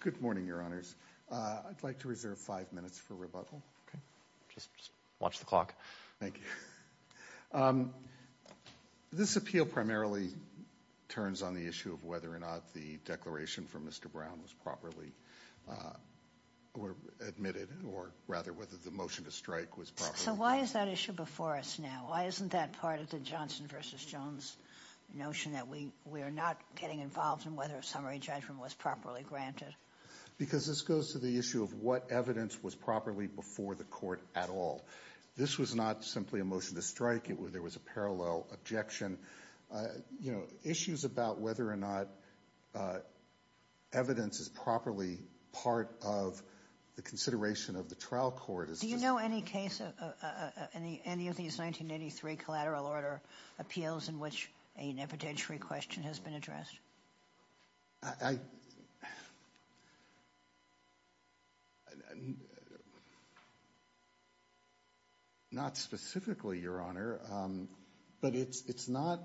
Good morning, Your Honors. I'd like to reserve five minutes for rebuttal. This appeal primarily turns on the issue of whether or not the declaration from Mr. Brown was properly admitted, or rather, whether the motion to strike was properly admitted. So why is that issue before us now? Why isn't that part of the Johnson v. Jones notion that we are not getting involved in whether a summary judgment was properly granted? Because this goes to the issue of what evidence was properly before the Court at all. This was not simply a motion to strike. There was a parallel objection. You know, issues about whether or not evidence is properly part of the consideration of the trial court is Do you know any case, any of these 1983 collateral order appeals in which an evidentiary question has been addressed? Not specifically, Your Honor, but it's not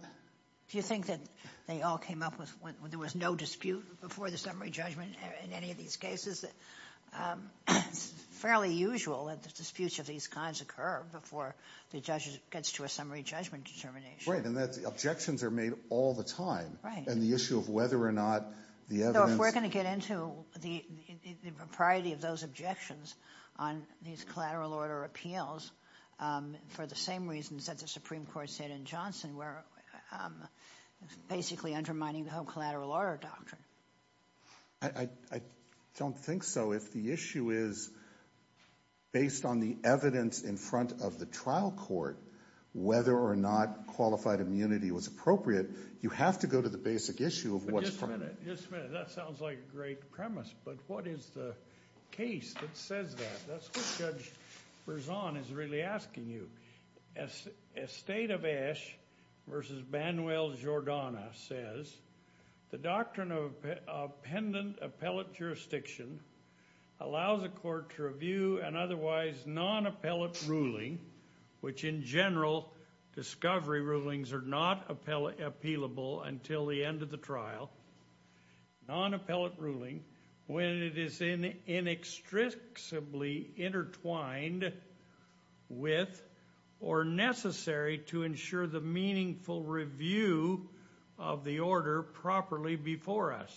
Do you think that they all came up with, there was no dispute before the summary judgment in any of these cases? It's fairly usual that the disputes of these kinds occur before the judge gets to a summary judgment determination. Right, and the objections are made all the time. Right. And the issue of whether or not the evidence So if we're going to get into the propriety of those objections on these collateral order appeals, for the same reasons that the Supreme Court said in Johnson, we're basically undermining the whole collateral order doctrine. I don't think so. If the issue is based on the evidence in front of the trial court, whether or not qualified immunity was appropriate, you have to go to the basic issue of what's But just a minute, that sounds like a great premise, but what is the case that says that? That's what Judge Berzon is really asking you. As State of Ashe versus Manuel Jordana says, the doctrine of pendent appellate jurisdiction allows a court to review an otherwise non-appellate ruling, which in general, discovery rulings are not appealable until the end of the trial, non-appellate ruling, when it is in inextricably intertwined with or necessary to ensure the meaningful review of the order properly before us.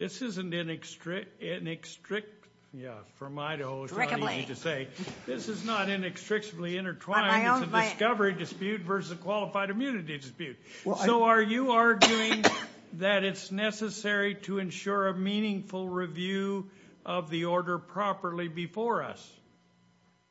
This isn't inextricably intertwined, it's a discovery dispute versus a qualified immunity dispute. So are you arguing that it's necessary to ensure a meaningful review of the order properly before us?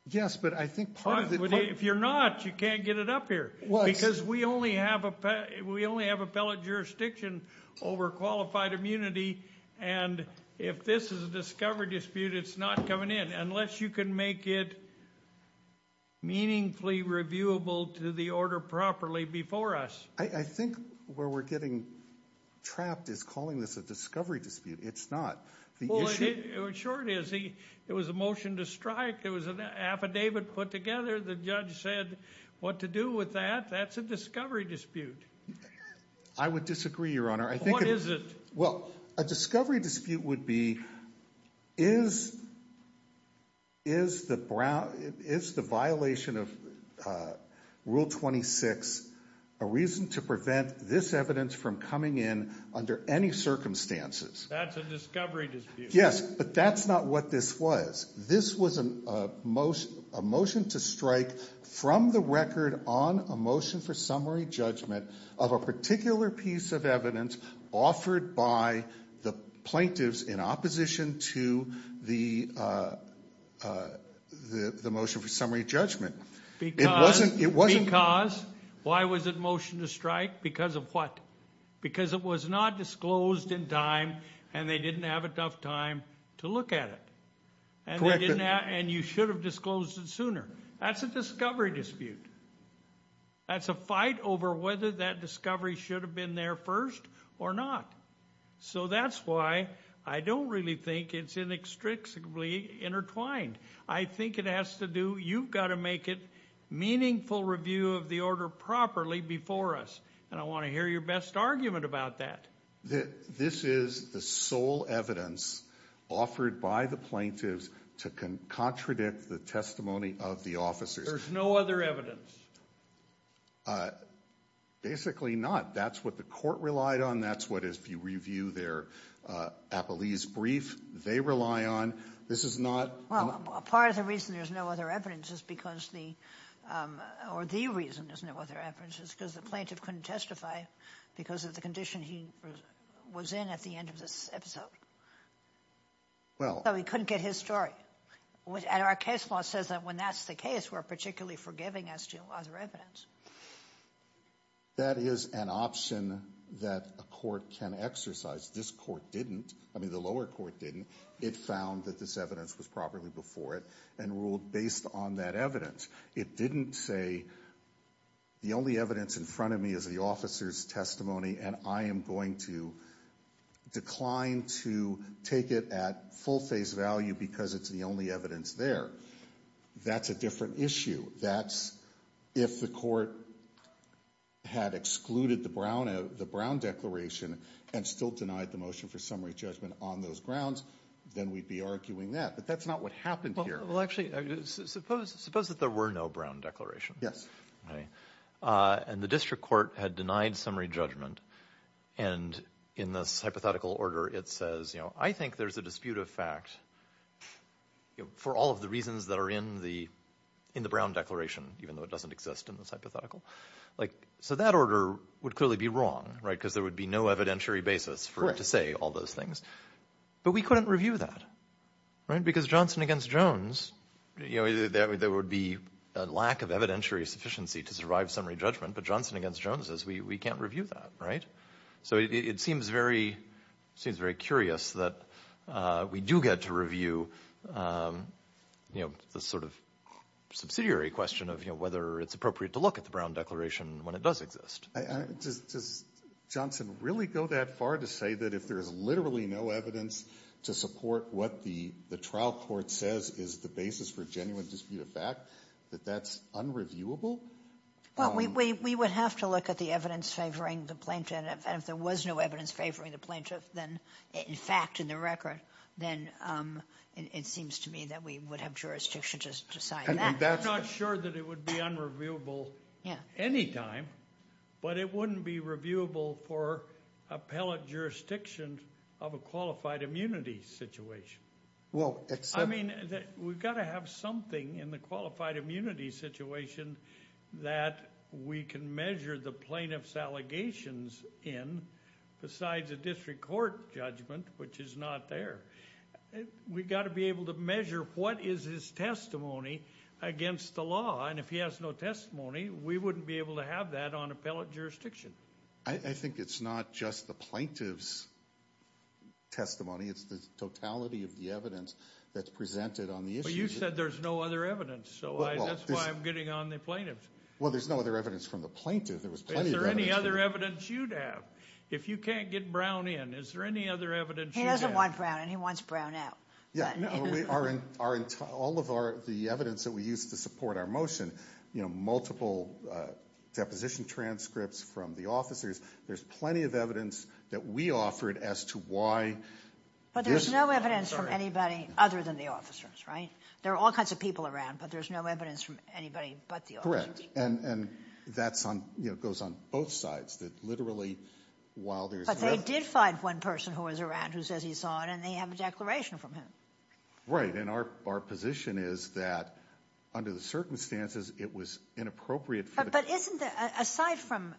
Yes, but I think part of the... If you're not, you can't get it up here, because we only have appellate jurisdiction over qualified immunity, and if this is a discovery dispute, it's not coming in, unless you can make it meaningfully reviewable to the order properly before us. I think where we're getting trapped is calling this a discovery dispute. It's not. Sure it is. It was a motion to strike. It was an affidavit put together. The judge said what to do with that. That's a discovery dispute. I would disagree, Your Honor. What is it? Well, a discovery dispute would be, is the violation of Rule 26 a reason to prevent this evidence from coming in under any circumstances? That's a discovery dispute. Yes, but that's not what this was. This was a motion to strike from the record on a motion for summary judgment of a particular piece of evidence offered by the plaintiffs in opposition to the motion for summary judgment. Because... It wasn't... It wasn't... Because, why was it a motion to strike? Because of what? Because it was not disclosed in time, and they didn't have enough time to look at it. Correct. And you should have disclosed it sooner. That's a discovery dispute. That's a fight over whether that discovery should have been there first or not. So that's why I don't really think it's inextricably intertwined. I think it has to do, you've got to make it meaningful review of the order properly before us. And I want to hear your best argument about that. This is the sole evidence offered by the plaintiffs to contradict the testimony of the officers. There's no other evidence. Basically not. That's what the court relied on. That's what, if you review their Appellee's brief, they rely on. This is not... Well, part of the reason there's no other evidence is because the, or the reason there's no other evidence is because the plaintiff couldn't testify because of the condition he was in at the end of this episode. Well... So he couldn't get his story. And our case law says that when that's the case, we're particularly forgiving as to other evidence. That is an option that a court can exercise. This court didn't. I mean, the lower court didn't. It found that this evidence was properly before it and ruled based on that evidence. It didn't say the only evidence in front of me is the officer's testimony and I am going to decline to take it at full face value because it's the only evidence there. That's a different issue. That's if the court had excluded the Brown Declaration and still denied the motion for summary judgment on those grounds, then we'd be arguing that. But that's not what happened here. Well, actually, suppose that there were no Brown Declaration. Yes. And the district court had denied summary judgment. And in this hypothetical order, it says, you know, I think there's a dispute of fact that, you know, for all of the reasons that are in the Brown Declaration, even though it doesn't exist in this hypothetical, like, so that order would clearly be wrong, right? Because there would be no evidentiary basis for it to say all those things. But we couldn't review that, right? Because Johnson against Jones, you know, there would be a lack of evidentiary sufficiency to survive summary judgment. But Johnson against Jones says we can't review that, right? So it seems very curious that we do get to review, you know, the sort of subsidiary question of, you know, whether it's appropriate to look at the Brown Declaration when it does exist. Does Johnson really go that far to say that if there's literally no evidence to support what the trial court says is the basis for genuine dispute of fact, that that's unreviewable? Well, we would have to look at the evidence favoring the plaintiff. And if there was no evidence favoring the plaintiff, then in fact, in the record, then it seems to me that we would have jurisdiction to decide that. I'm not sure that it would be unreviewable anytime, but it wouldn't be reviewable for appellate jurisdiction of a qualified immunity situation. Well, except... I mean, we've got to have something in the qualified immunity situation that we can measure the plaintiff's allegations in besides a district court judgment, which is not there. We've got to be able to measure what is his testimony against the law. And if he has no testimony, we wouldn't be able to have that on appellate jurisdiction. I think it's not just the plaintiff's testimony. It's the totality of the evidence that's presented on the issue. But you said there's no other evidence, so that's why I'm getting on the plaintiff's. Well, there's no other evidence from the plaintiff. There was plenty of evidence. Is there any other evidence you'd have? If you can't get Brown in, is there any other evidence you'd have? He doesn't want Brown in. He wants Brown out. Yeah. All of the evidence that we use to support our motion, multiple deposition transcripts from the officers, there's plenty of evidence that we offered as to why... But there's no evidence from anybody other than the officers, right? There are all kinds of people around, but there's no evidence from anybody but the officers. Correct. And that goes on both sides. That literally, while there's... But they did find one person who was around who says he saw it, and they have a declaration from him. Right. And our position is that, under the circumstances, it was inappropriate for... But isn't the... Aside from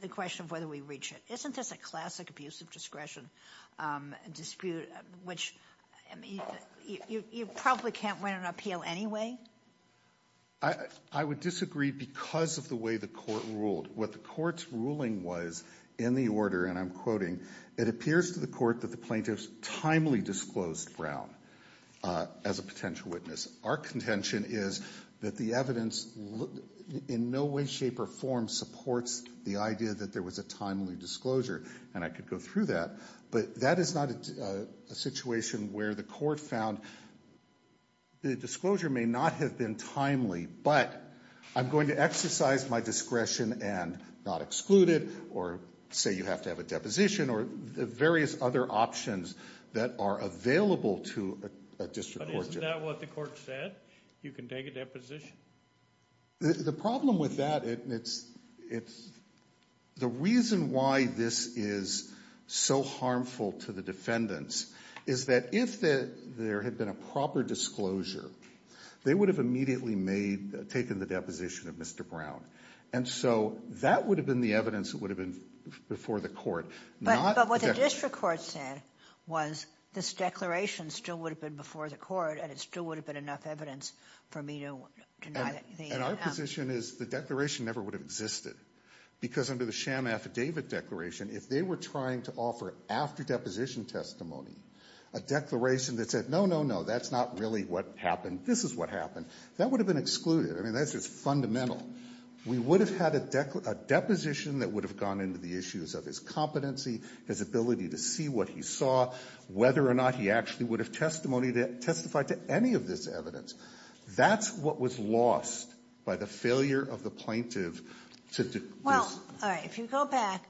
the question of whether we reach it, isn't this a classic abuse of discretion dispute, which you probably can't win an appeal anyway? I would disagree because of the way the court ruled. What the court's ruling was in the order, and I'm quoting, it appears to the court that the plaintiff's timely disclosed Brown as a potential witness. Our contention is that the evidence, in no way, shape, or form, supports the idea that there was a timely disclosure, and I could go through that. But that is not a situation where the court found the disclosure may not have been timely, but I'm going to exercise my discretion and not exclude it, or say you have to have a deposition, or the various other options that are available to a district court judge. But isn't that what the court said? You can take a deposition? The problem with that, it's... The reason why this is so harmful to the defendants is that if there had been a proper disclosure, they would have immediately made... taken the deposition of Mr. Brown. And so that would have been the evidence that would have been before the court. But what the district court said was, this declaration still would have been before the court, and it still would have been enough evidence for me to deny the... And our position is the declaration never would have existed. Because under the sham affidavit declaration, if they were trying to offer after-deposition testimony, a declaration that said, no, no, no, that's not really what happened, this is what happened, that would have been excluded. I mean, that's just fundamental. We would have had a deposition that would have gone into the issues of his competency, his ability to see what he saw, whether or not he actually would have testified to any of this evidence. That's what was lost by the failure of the plaintiff to... Well, all right, if you go back,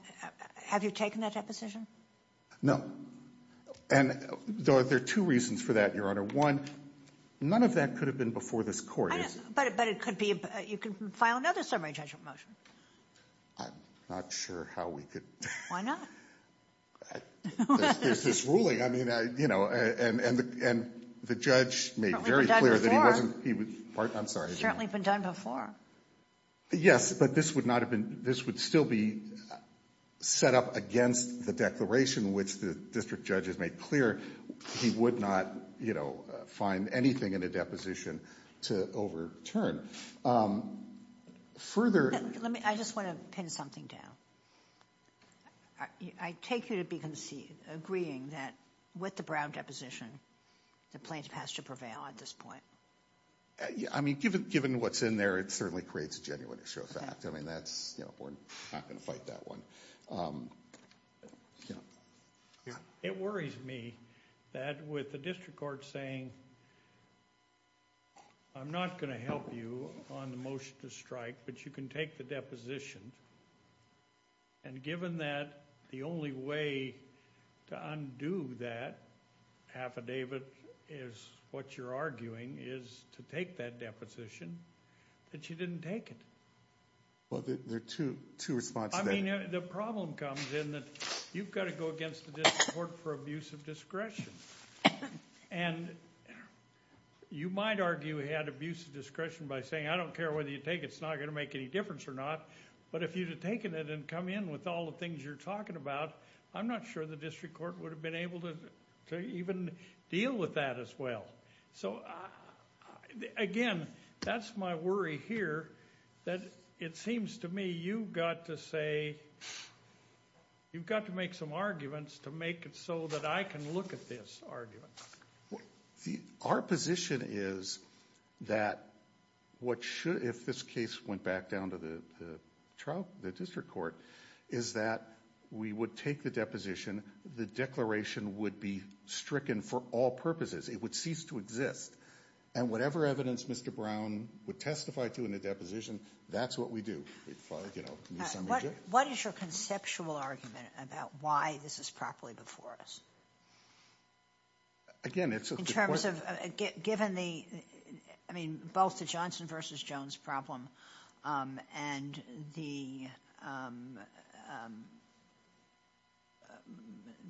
have you taken that deposition? No. And there are two reasons for that, Your Honor. One, none of that could have been before this court. But it could be... You can file another summary judgment motion. I'm not sure how we could... Why not? There's this ruling, I mean, you know, and the judge made very clear that he wasn't... I'm sorry. It's certainly been done before. Yes, but this would not have been... This would still be set up against the declaration, which the district judge has made clear he would not, you know, find anything in a deposition to overturn. Further... Let me... I just want to pin something down. I take you to be agreeing that with the Brown deposition, the plaintiff has to prevail at this point. I mean, given what's in there, it certainly creates a genuine issue of fact. I mean, that's... You know, we're not going to fight that one. It worries me that with the district court saying, I'm not going to help you on the motion to strike, but you can take the deposition. And given that the only way to undo that affidavit is what you're arguing is to take that deposition, that you didn't take it. Well, there are two responses. The problem comes in that you've got to go against the district court for abuse of discretion. And you might argue he had abuse of discretion by saying, I don't care whether you take it. It's not going to make any difference or not. But if you'd have taken it and come in with all the things you're talking about, I'm not sure the district court would have been able to even deal with that as well. So, again, that's my worry here, that it seems to me you've got to say, you've got to make some arguments to make it so that I can look at this argument. Our position is that what should... If this case went back down to the district court, is that we would take the deposition. The declaration would be stricken for all purposes. It would cease to exist. And whatever evidence Mr. Brown would testify to in the deposition, that's what we do. What is your conceptual argument about why this is properly before us? Again, it's... In terms of, given the... I mean, both the Johnson v. Jones problem and the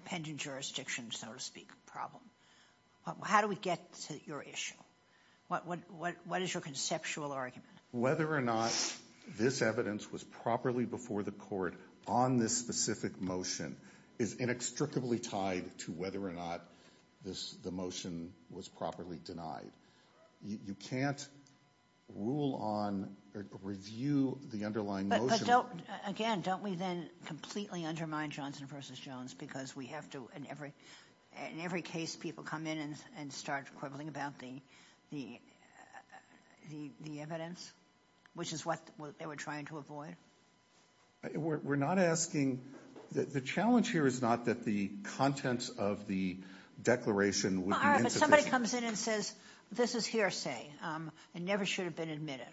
pending jurisdiction, so to speak, problem. How do we get to your issue? What is your conceptual argument? Whether or not this evidence was properly before the court on this specific motion is inextricably tied to whether or not the motion was properly denied. You can't rule on or review the underlying motion. But, again, don't we then completely undermine Johnson v. Jones because we have to... In every case, people come in and start quibbling about the evidence, which is what they were trying to avoid. We're not asking... The challenge here is not that the contents of the declaration would be insufficient. Somebody comes in and says, this is hearsay. It never should have been admitted.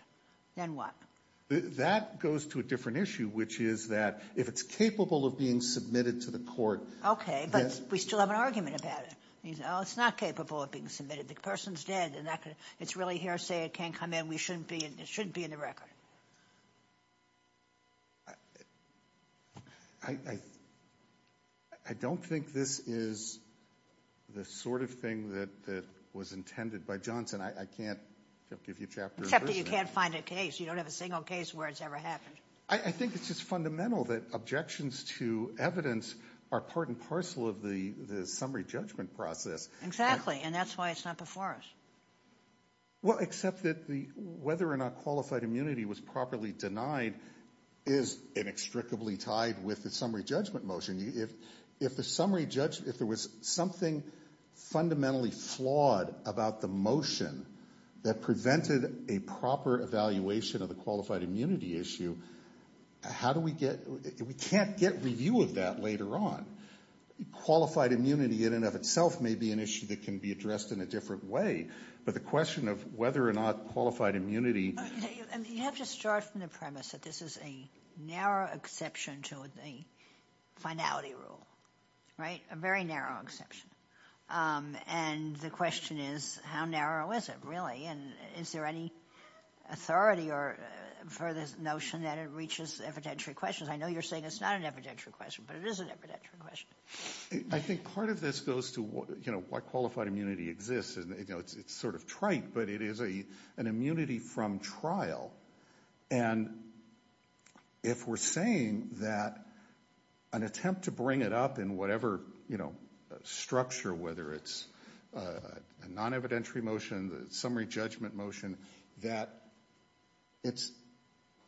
Then what? That goes to a different issue, which is that if it's capable of being submitted to the court... Okay, but we still have an argument about it. It's not capable of being submitted. The person's dead. It's really hearsay. It can't come in. We shouldn't be... It shouldn't be in the record. I don't think this is the sort of thing that was intended by Johnson. I can't give you a chapter... Except that you can't find a case. You don't have a single case where it's ever happened. I think it's just fundamental that objections to evidence are part and parcel of the summary judgment process. And that's why it's not before us. Well, except that whether or not qualified immunity was properly denied is inextricably tied with the summary judgment motion. If there was something fundamentally flawed about the motion that prevented a proper evaluation of the qualified immunity issue, we can't get review of that later on. Qualified immunity in and of itself may be an issue that can be addressed in a different way. But the question of whether or not qualified immunity... You have to start from the premise that this is a narrow exception to the finality rule, right? A very narrow exception. And the question is, how narrow is it, really? Is there any authority for this notion that it reaches evidentiary questions? I know you're saying it's not an evidentiary question, but it is an evidentiary question. I think part of this goes to why qualified immunity exists. It's sort of trite, but it is an immunity from trial. And if we're saying that an attempt to bring it up in whatever structure, whether it's a non-evidentiary motion, the summary judgment motion, that it's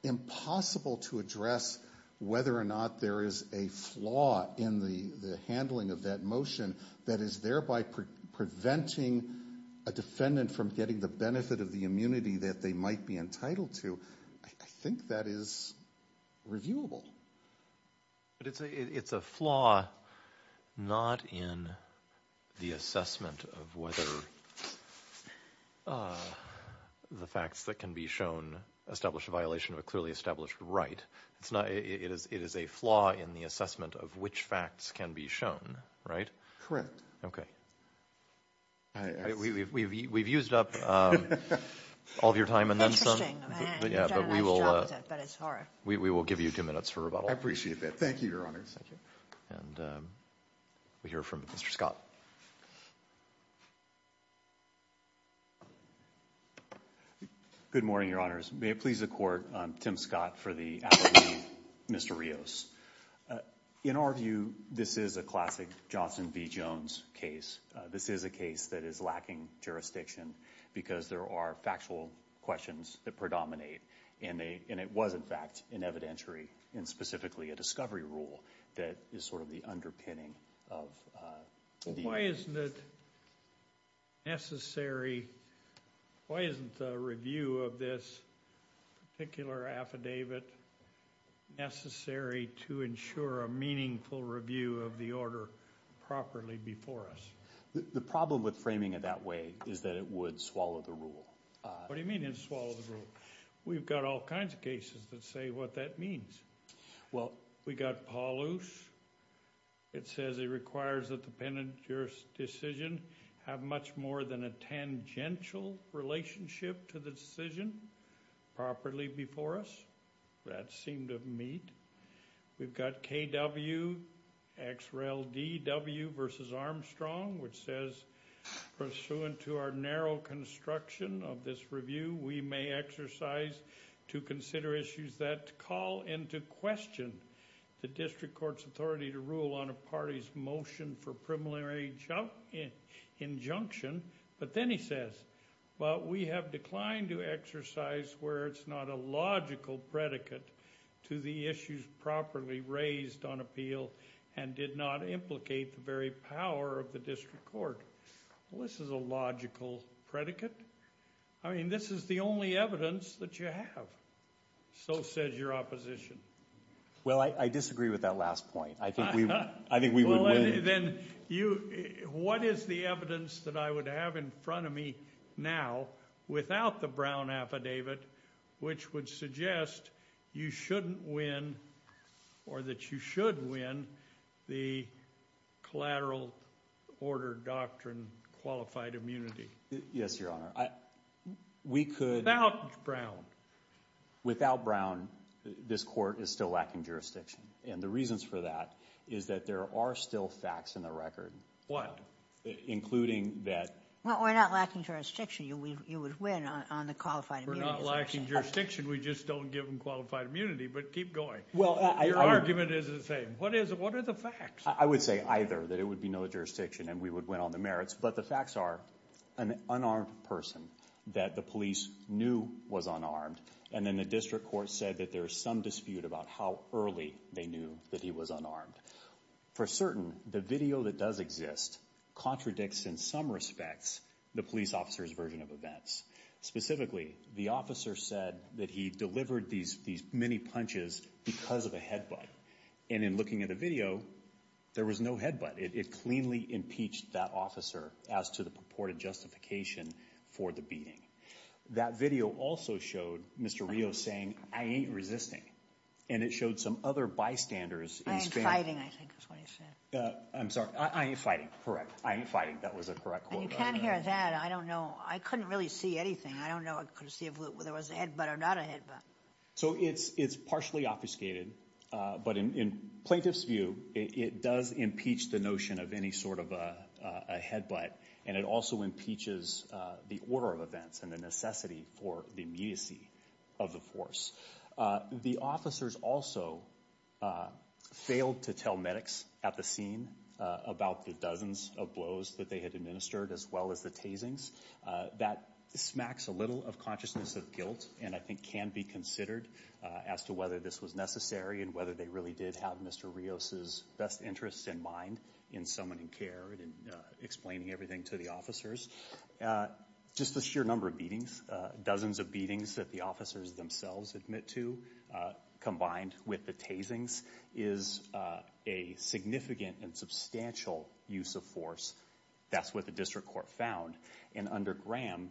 impossible to address whether or not there is a flaw in the handling of that motion that is thereby preventing a defendant from getting the benefit of the immunity that they might be entitled to, I think that is reviewable. But it's a flaw not in the assessment of whether the facts that can be shown establish a violation of a clearly established right. It is a flaw in the assessment of which facts can be shown, right? Correct. Okay. We've used up all of your time. Interesting. You've done a nice job with it, but it's hard. We will give you two minutes for rebuttal. I appreciate that. Thank you, Your Honor. Thank you. And we hear from Mr. Scott. Good morning, Your Honors. May it please the Court, I'm Tim Scott for the appellee, Mr. Rios. In our view, this is a classic Johnson v. Jones case. This is a case that is lacking jurisdiction because there are factual questions that predominate. And it was, in fact, an evidentiary and specifically a discovery rule that is sort of the underpinning of the... Why isn't it necessary? Why isn't the review of this particular affidavit necessary to ensure a meaningful review of the order properly before us? The problem with framing it that way is that it would swallow the rule. What do you mean it would swallow the rule? We've got all kinds of cases that say what that means. Well, we got Paul Luce. It says it requires that the penitentiary's decision have much more than a tangential relationship to the decision properly before us. That seemed to meet. We've got KW, XRLDW v. Armstrong, which says, pursuant to our narrow construction of this review, we may exercise to consider issues that call into question the district court's authority to rule on a party's motion for preliminary injunction. But then he says, well, we have declined to exercise where it's not a logical predicate to the issues properly raised on appeal and did not implicate the very power of the district court. Well, this is a logical predicate. I mean, this is the only evidence that you have. So says your opposition. Well, I disagree with that last point. I think we would win. Then what is the evidence that I would have in front of me now without the Brown affidavit which would suggest you shouldn't win or that you should win the collateral order doctrine qualified immunity? Yes, Your Honor. We could. Without Brown. Without Brown, this court is still lacking jurisdiction. And the reasons for that is that there are still facts in the record. What? Including that. Well, we're not lacking jurisdiction. You would win on the qualified immunity. Lacking jurisdiction. We just don't give them qualified immunity. But keep going. Well, your argument is the same. What is it? What are the facts? I would say either that it would be no jurisdiction and we would win on the merits. But the facts are an unarmed person that the police knew was unarmed. And then the district court said that there's some dispute about how early they knew that he was unarmed. For certain, the video that does exist contradicts in some respects the police officer's version of events. Specifically, the officer said that he delivered these many punches because of a headbutt. And in looking at the video, there was no headbutt. It cleanly impeached that officer as to the purported justification for the beating. That video also showed Mr. Rio saying, I ain't resisting. And it showed some other bystanders. I ain't fighting, I think is what he said. I'm sorry. I ain't fighting. Correct. I ain't fighting. That was a correct quote. You can't hear that. I don't know. I couldn't really see anything. I don't know. I couldn't see if there was a headbutt or not a headbutt. So it's partially obfuscated. But in plaintiff's view, it does impeach the notion of any sort of a headbutt. And it also impeaches the order of events and the necessity for the immediacy of the force. The officers also failed to tell medics at the scene about the dozens of blows that they had administered as well as the tasings. That smacks a little of consciousness of guilt and I think can be considered as to whether this was necessary and whether they really did have Mr. Rios's best interests in mind in summoning care and explaining everything to the officers. Just the sheer number of beatings, dozens of beatings that the officers themselves admit to combined with the tasings is a significant and substantial use of force that's what the district court found. And under Graham,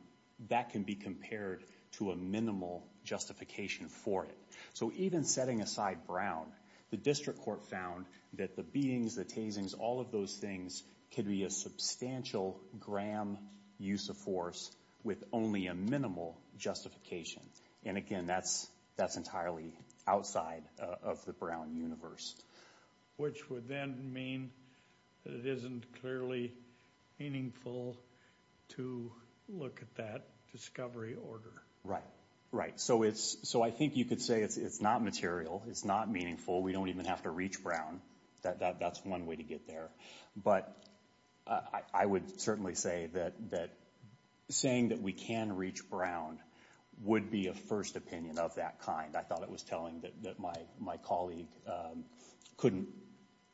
that can be compared to a minimal justification for it. So even setting aside Brown, the district court found that the beatings, the tasings, all of those things could be a substantial Graham use of force with only a minimal justification. And again, that's entirely outside of the Brown universe. Which would then mean that it isn't clearly meaningful to look at that discovery order. So I think you could say it's not material. It's not meaningful. We don't even have to reach Brown. That's one way to get there. But I would certainly say that saying that we can reach Brown would be a first opinion of that kind. I thought it was telling that my colleague couldn't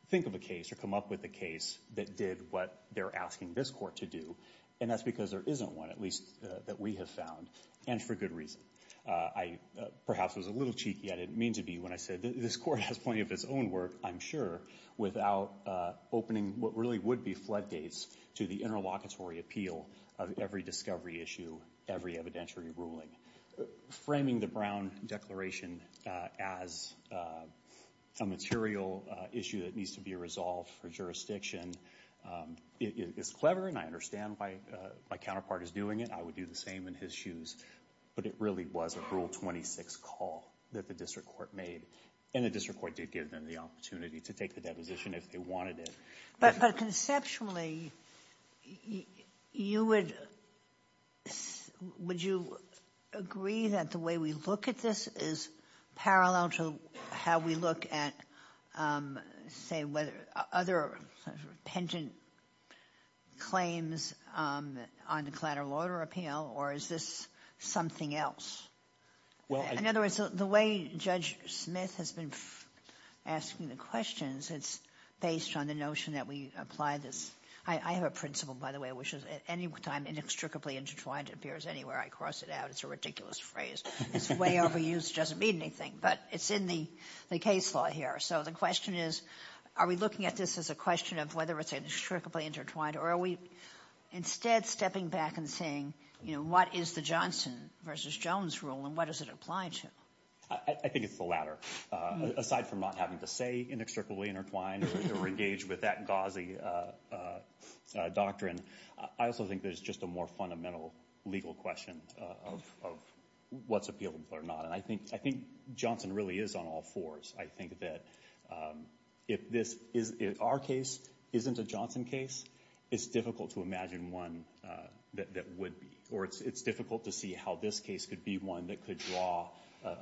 think of a case or come up with a case that did what they're asking this court to do. And that's because there isn't one, at least that we have found, and for good reason. I perhaps was a little cheeky. I didn't mean to be when I said this court has plenty of its own work, I'm sure, without opening what really would be floodgates to the interlocutory appeal of every discovery issue, every evidentiary ruling. Framing the Brown Declaration as a material issue that needs to be resolved for jurisdiction is clever, and I understand why my counterpart is doing it. I would do the same in his shoes. But it really was a Rule 26 call that the district court made. And the district court did give them the opportunity to take the deposition if they wanted it. But conceptually, would you agree that the way we look at this is parallel to how we look at, say, other pendent claims on declarative order appeal? Or is this something else? In other words, the way Judge Smith has been asking the questions, it's based on the notion that we apply this. I have a principle, by the way, which is at any time inextricably intertwined appears anywhere I cross it out. It's a ridiculous phrase. It's way overused, doesn't mean anything. But it's in the case law here. So the question is, are we looking at this as a question of whether it's inextricably intertwined? Or are we instead stepping back and saying, you know, what is the Johnson versus Jones rule? And what does it apply to? I think it's the latter. Aside from not having to say inextricably intertwined, or engage with that gauzy doctrine, I also think there's just a more fundamental legal question of what's appealable or not. And I think Johnson really is on all fours. I think that if our case isn't a Johnson case, it's difficult to imagine one that would be. Or it's difficult to see how this case could be one that could draw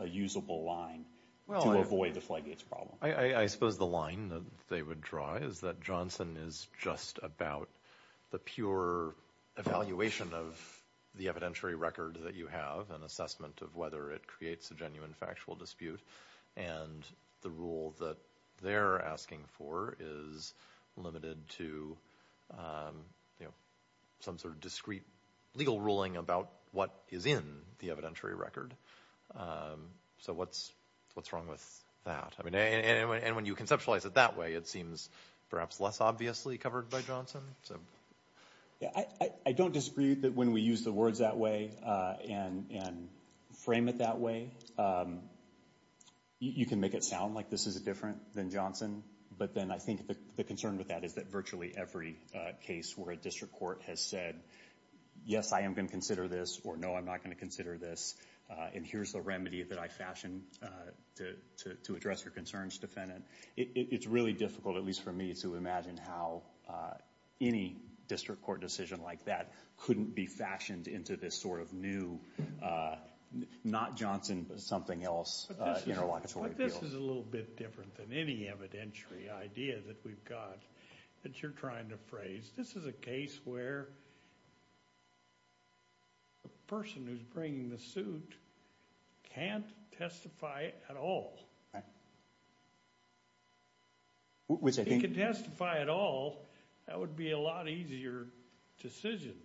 a usable line. Well, to avoid the Flygates problem. I suppose the line that they would draw is that Johnson is just about the pure evaluation of the evidentiary record that you have, an assessment of whether it creates a genuine factual dispute. And the rule that they're asking for is limited to, you know, some sort of discrete legal ruling about what is in the evidentiary record. So what's wrong with that? I mean, and when you conceptualize it that way, it seems perhaps less obviously covered by Johnson. Yeah, I don't disagree that when we use the words that way, and frame it that way, you can make it sound like this is different than Johnson. But then I think the concern with that is that virtually every case where a district court has said, yes, I am going to consider this, or no, I'm not going to consider this, and here's the remedy that I fashioned to address your concerns, Defendant. It's really difficult, at least for me, to imagine how any district court decision like that couldn't be fashioned into this sort of new, not Johnson, but something else, interlocutory appeal. But this is a little bit different than any evidentiary idea that we've got that you're trying to phrase. This is a case where the person who's bringing the suit can't testify at all. Right. If he could testify at all, that would be a lot easier decision.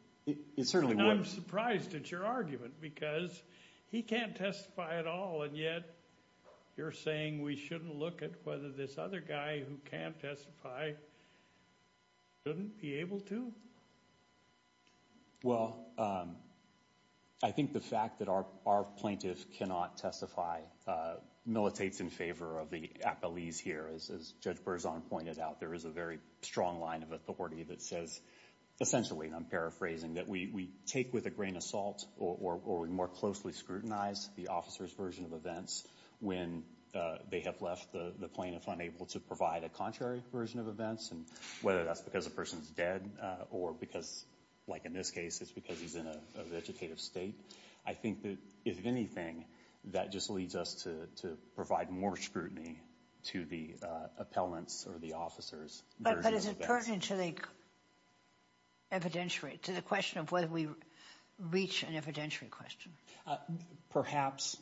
It certainly would. And I'm surprised at your argument, because he can't testify at all, and yet you're saying we shouldn't look at whether this other guy who can't testify shouldn't be able to? Well, I think the fact that our plaintiff cannot testify militates in favor of the apolis here. As Judge Berzon pointed out, there is a very strong line of authority that says, essentially, and I'm paraphrasing, that we take with a grain of salt, or we more closely scrutinize the officer's version of events when they have left the plaintiff unable to provide a contrary version of events, and whether that's because a person's dead, or because, like in this case, it's because he's in a vegetative state. I think that, if anything, that just leads us to provide more scrutiny to the appellant's or the officer's version of events. But is it pertinent to the evidentiary, to the question of whether we reach an evidentiary question? Perhaps,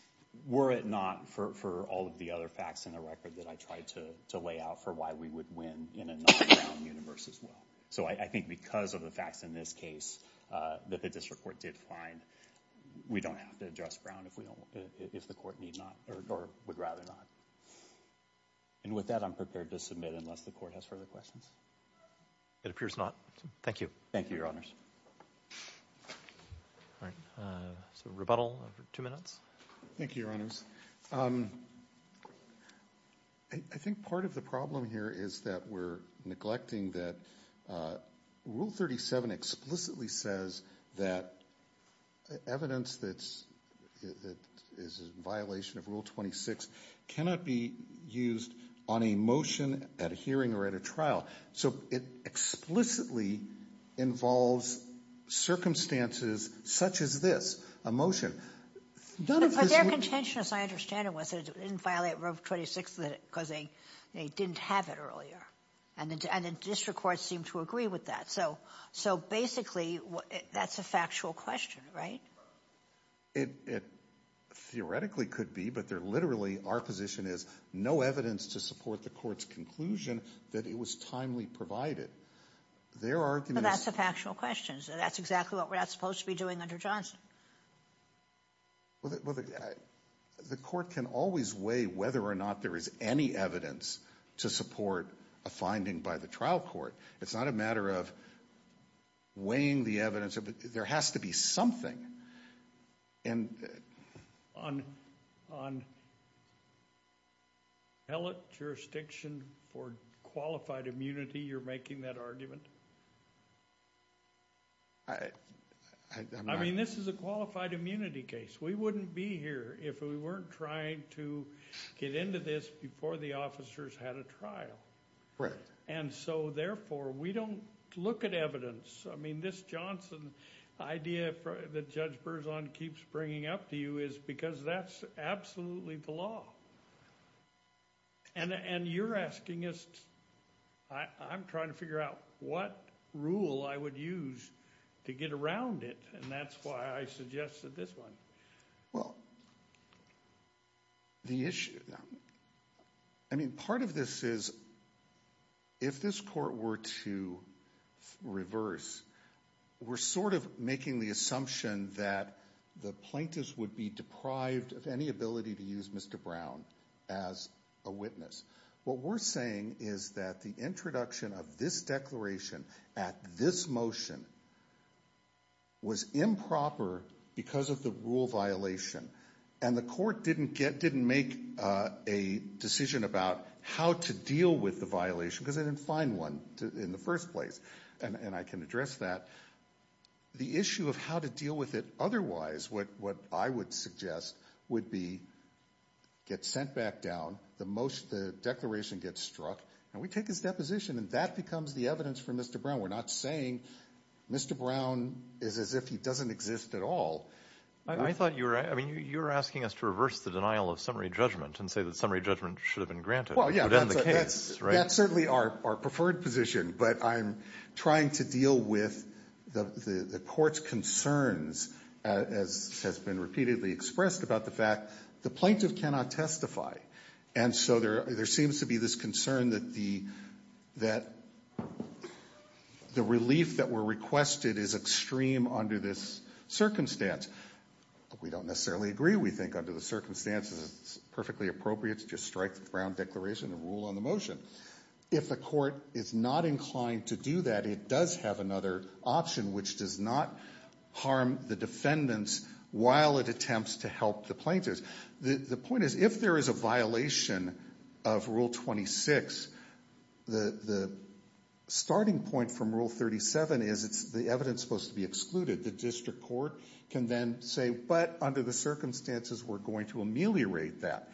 were it not for all of the other facts in the record that I tried to lay out for why we would win in a non-Brown universe as well. So I think because of the facts in this case that the district court did find, we don't have to address Brown if the court would rather not. And with that, I'm prepared to submit unless the court has further questions. It appears not. Thank you. Thank you, Your Honors. All right, so rebuttal for two minutes. Thank you, Your Honors. I think part of the problem here is that we're neglecting that Rule 37 explicitly says that evidence that is in violation of Rule 26 cannot be used on a motion, at a hearing, or at a trial. So it explicitly involves circumstances such as this, a motion. But their contention, as I understand it, didn't violate Rule 26 because they didn't have it earlier. And the district courts seem to agree with that. So basically, that's a factual question, right? It theoretically could be. But they're literally, our position is, no evidence to support the court's conclusion that it was timely provided. Their argument is... But that's a factual question. That's exactly what we're not supposed to be doing under Johnson. Well, the court can always weigh whether or not there is any evidence to support a finding by the trial court. It's not a matter of weighing the evidence. There has to be something. On pellet jurisdiction for qualified immunity, you're making that argument? I mean, this is a qualified immunity case. We wouldn't be here if we weren't trying to get into this before the officers had a trial. Right. And so therefore, we don't look at evidence. I mean, this Johnson idea that Judge Berzon keeps bringing up to you is because that's absolutely the law. And you're asking us, I'm trying to figure out what rule I would use to get around it. And that's why I suggested this one. Well, the issue, I mean, part of this is, if this court were to reverse, we're sort of making the assumption that the plaintiffs would be deprived of any ability to use Mr. Brown. As a witness, what we're saying is that the introduction of this declaration at this motion was improper because of the rule violation. And the court didn't make a decision about how to deal with the violation because they didn't find one in the first place. And I can address that. The issue of how to deal with it otherwise, what I would suggest, would be, get sent back down, the declaration gets struck, and we take his deposition, and that becomes the evidence for Mr. Brown. We're not saying Mr. Brown is as if he doesn't exist at all. I thought you were, I mean, you were asking us to reverse the denial of summary judgment and say that summary judgment should have been granted. Well, yeah, that's certainly our preferred position. But I'm trying to deal with the court's concerns, as has been repeatedly expressed, about the fact the plaintiff cannot testify. And so there seems to be this concern that the relief that were requested is extreme under this circumstance. We don't necessarily agree. We think under the circumstances, it's perfectly appropriate to just strike the Brown Declaration and rule on the motion. If the court is not inclined to do that, it does have another option which does not harm the defendants while it attempts to help the plaintiffs. The point is, if there is a violation of Rule 26, the starting point from Rule 37 is, it's the evidence supposed to be excluded. The district court can then say, but under the circumstances, we're going to ameliorate that.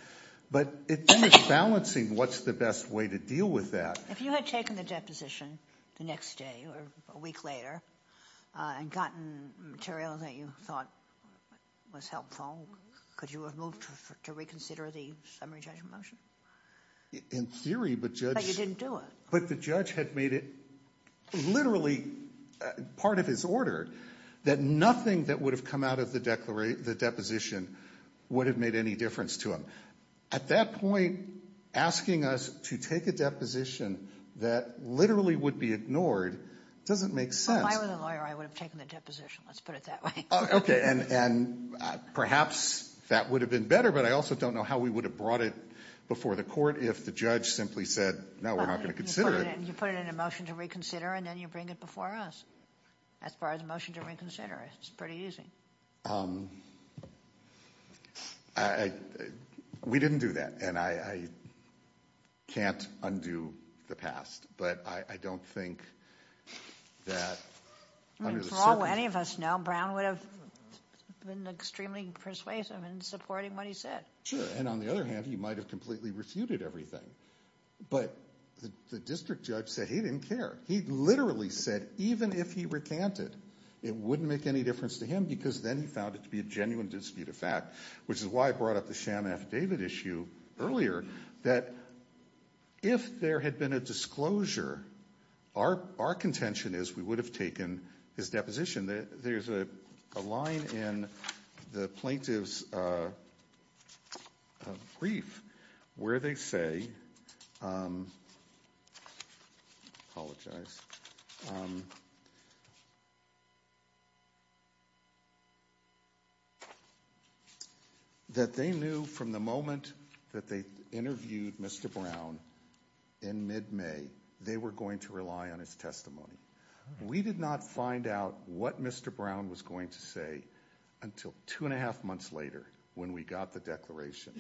But it's balancing what's the best way to deal with that. If you had taken the deposition the next day or a week later and gotten material that you thought was helpful, could you have moved to reconsider the summary judgment motion? In theory, but Judge — But you didn't do it. But the judge had made it literally part of his order that nothing that would have come out of the deposition would have made any difference to him. At that point, asking us to take a deposition that literally would be ignored doesn't make sense. If I were the lawyer, I would have taken the deposition. Let's put it that way. Okay, and perhaps that would have been better. But I also don't know how we would have brought it before the court if the judge simply said, no, we're not going to consider it. You put it in a motion to reconsider, and then you bring it before us. As far as a motion to reconsider, it's pretty easy. Um, I — we didn't do that, and I can't undo the past. But I don't think that — I mean, for all any of us know, Brown would have been extremely persuasive in supporting what he said. Sure, and on the other hand, he might have completely refuted everything. But the district judge said he didn't care. He literally said even if he recanted, it wouldn't make any difference to him because then he found it to be a genuine dispute of fact, which is why I brought up the sham affidavit issue earlier, that if there had been a disclosure, our contention is we would have taken his deposition. There's a line in the plaintiff's brief where they say — I apologize — that they knew from the moment that they interviewed Mr. Brown in mid-May, they were going to rely on his testimony. We did not find out what Mr. Brown was going to say until two and a half months later when we got the declaration.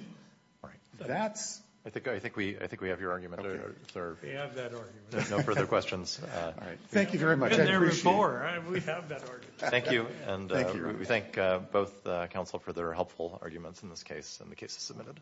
That's — I think — I think we — I think we have your argument, sir. We have that argument. No further questions. Thank you very much. And there were more. We have that argument. Thank you. And we thank both counsel for their helpful arguments in this case, and the case is submitted.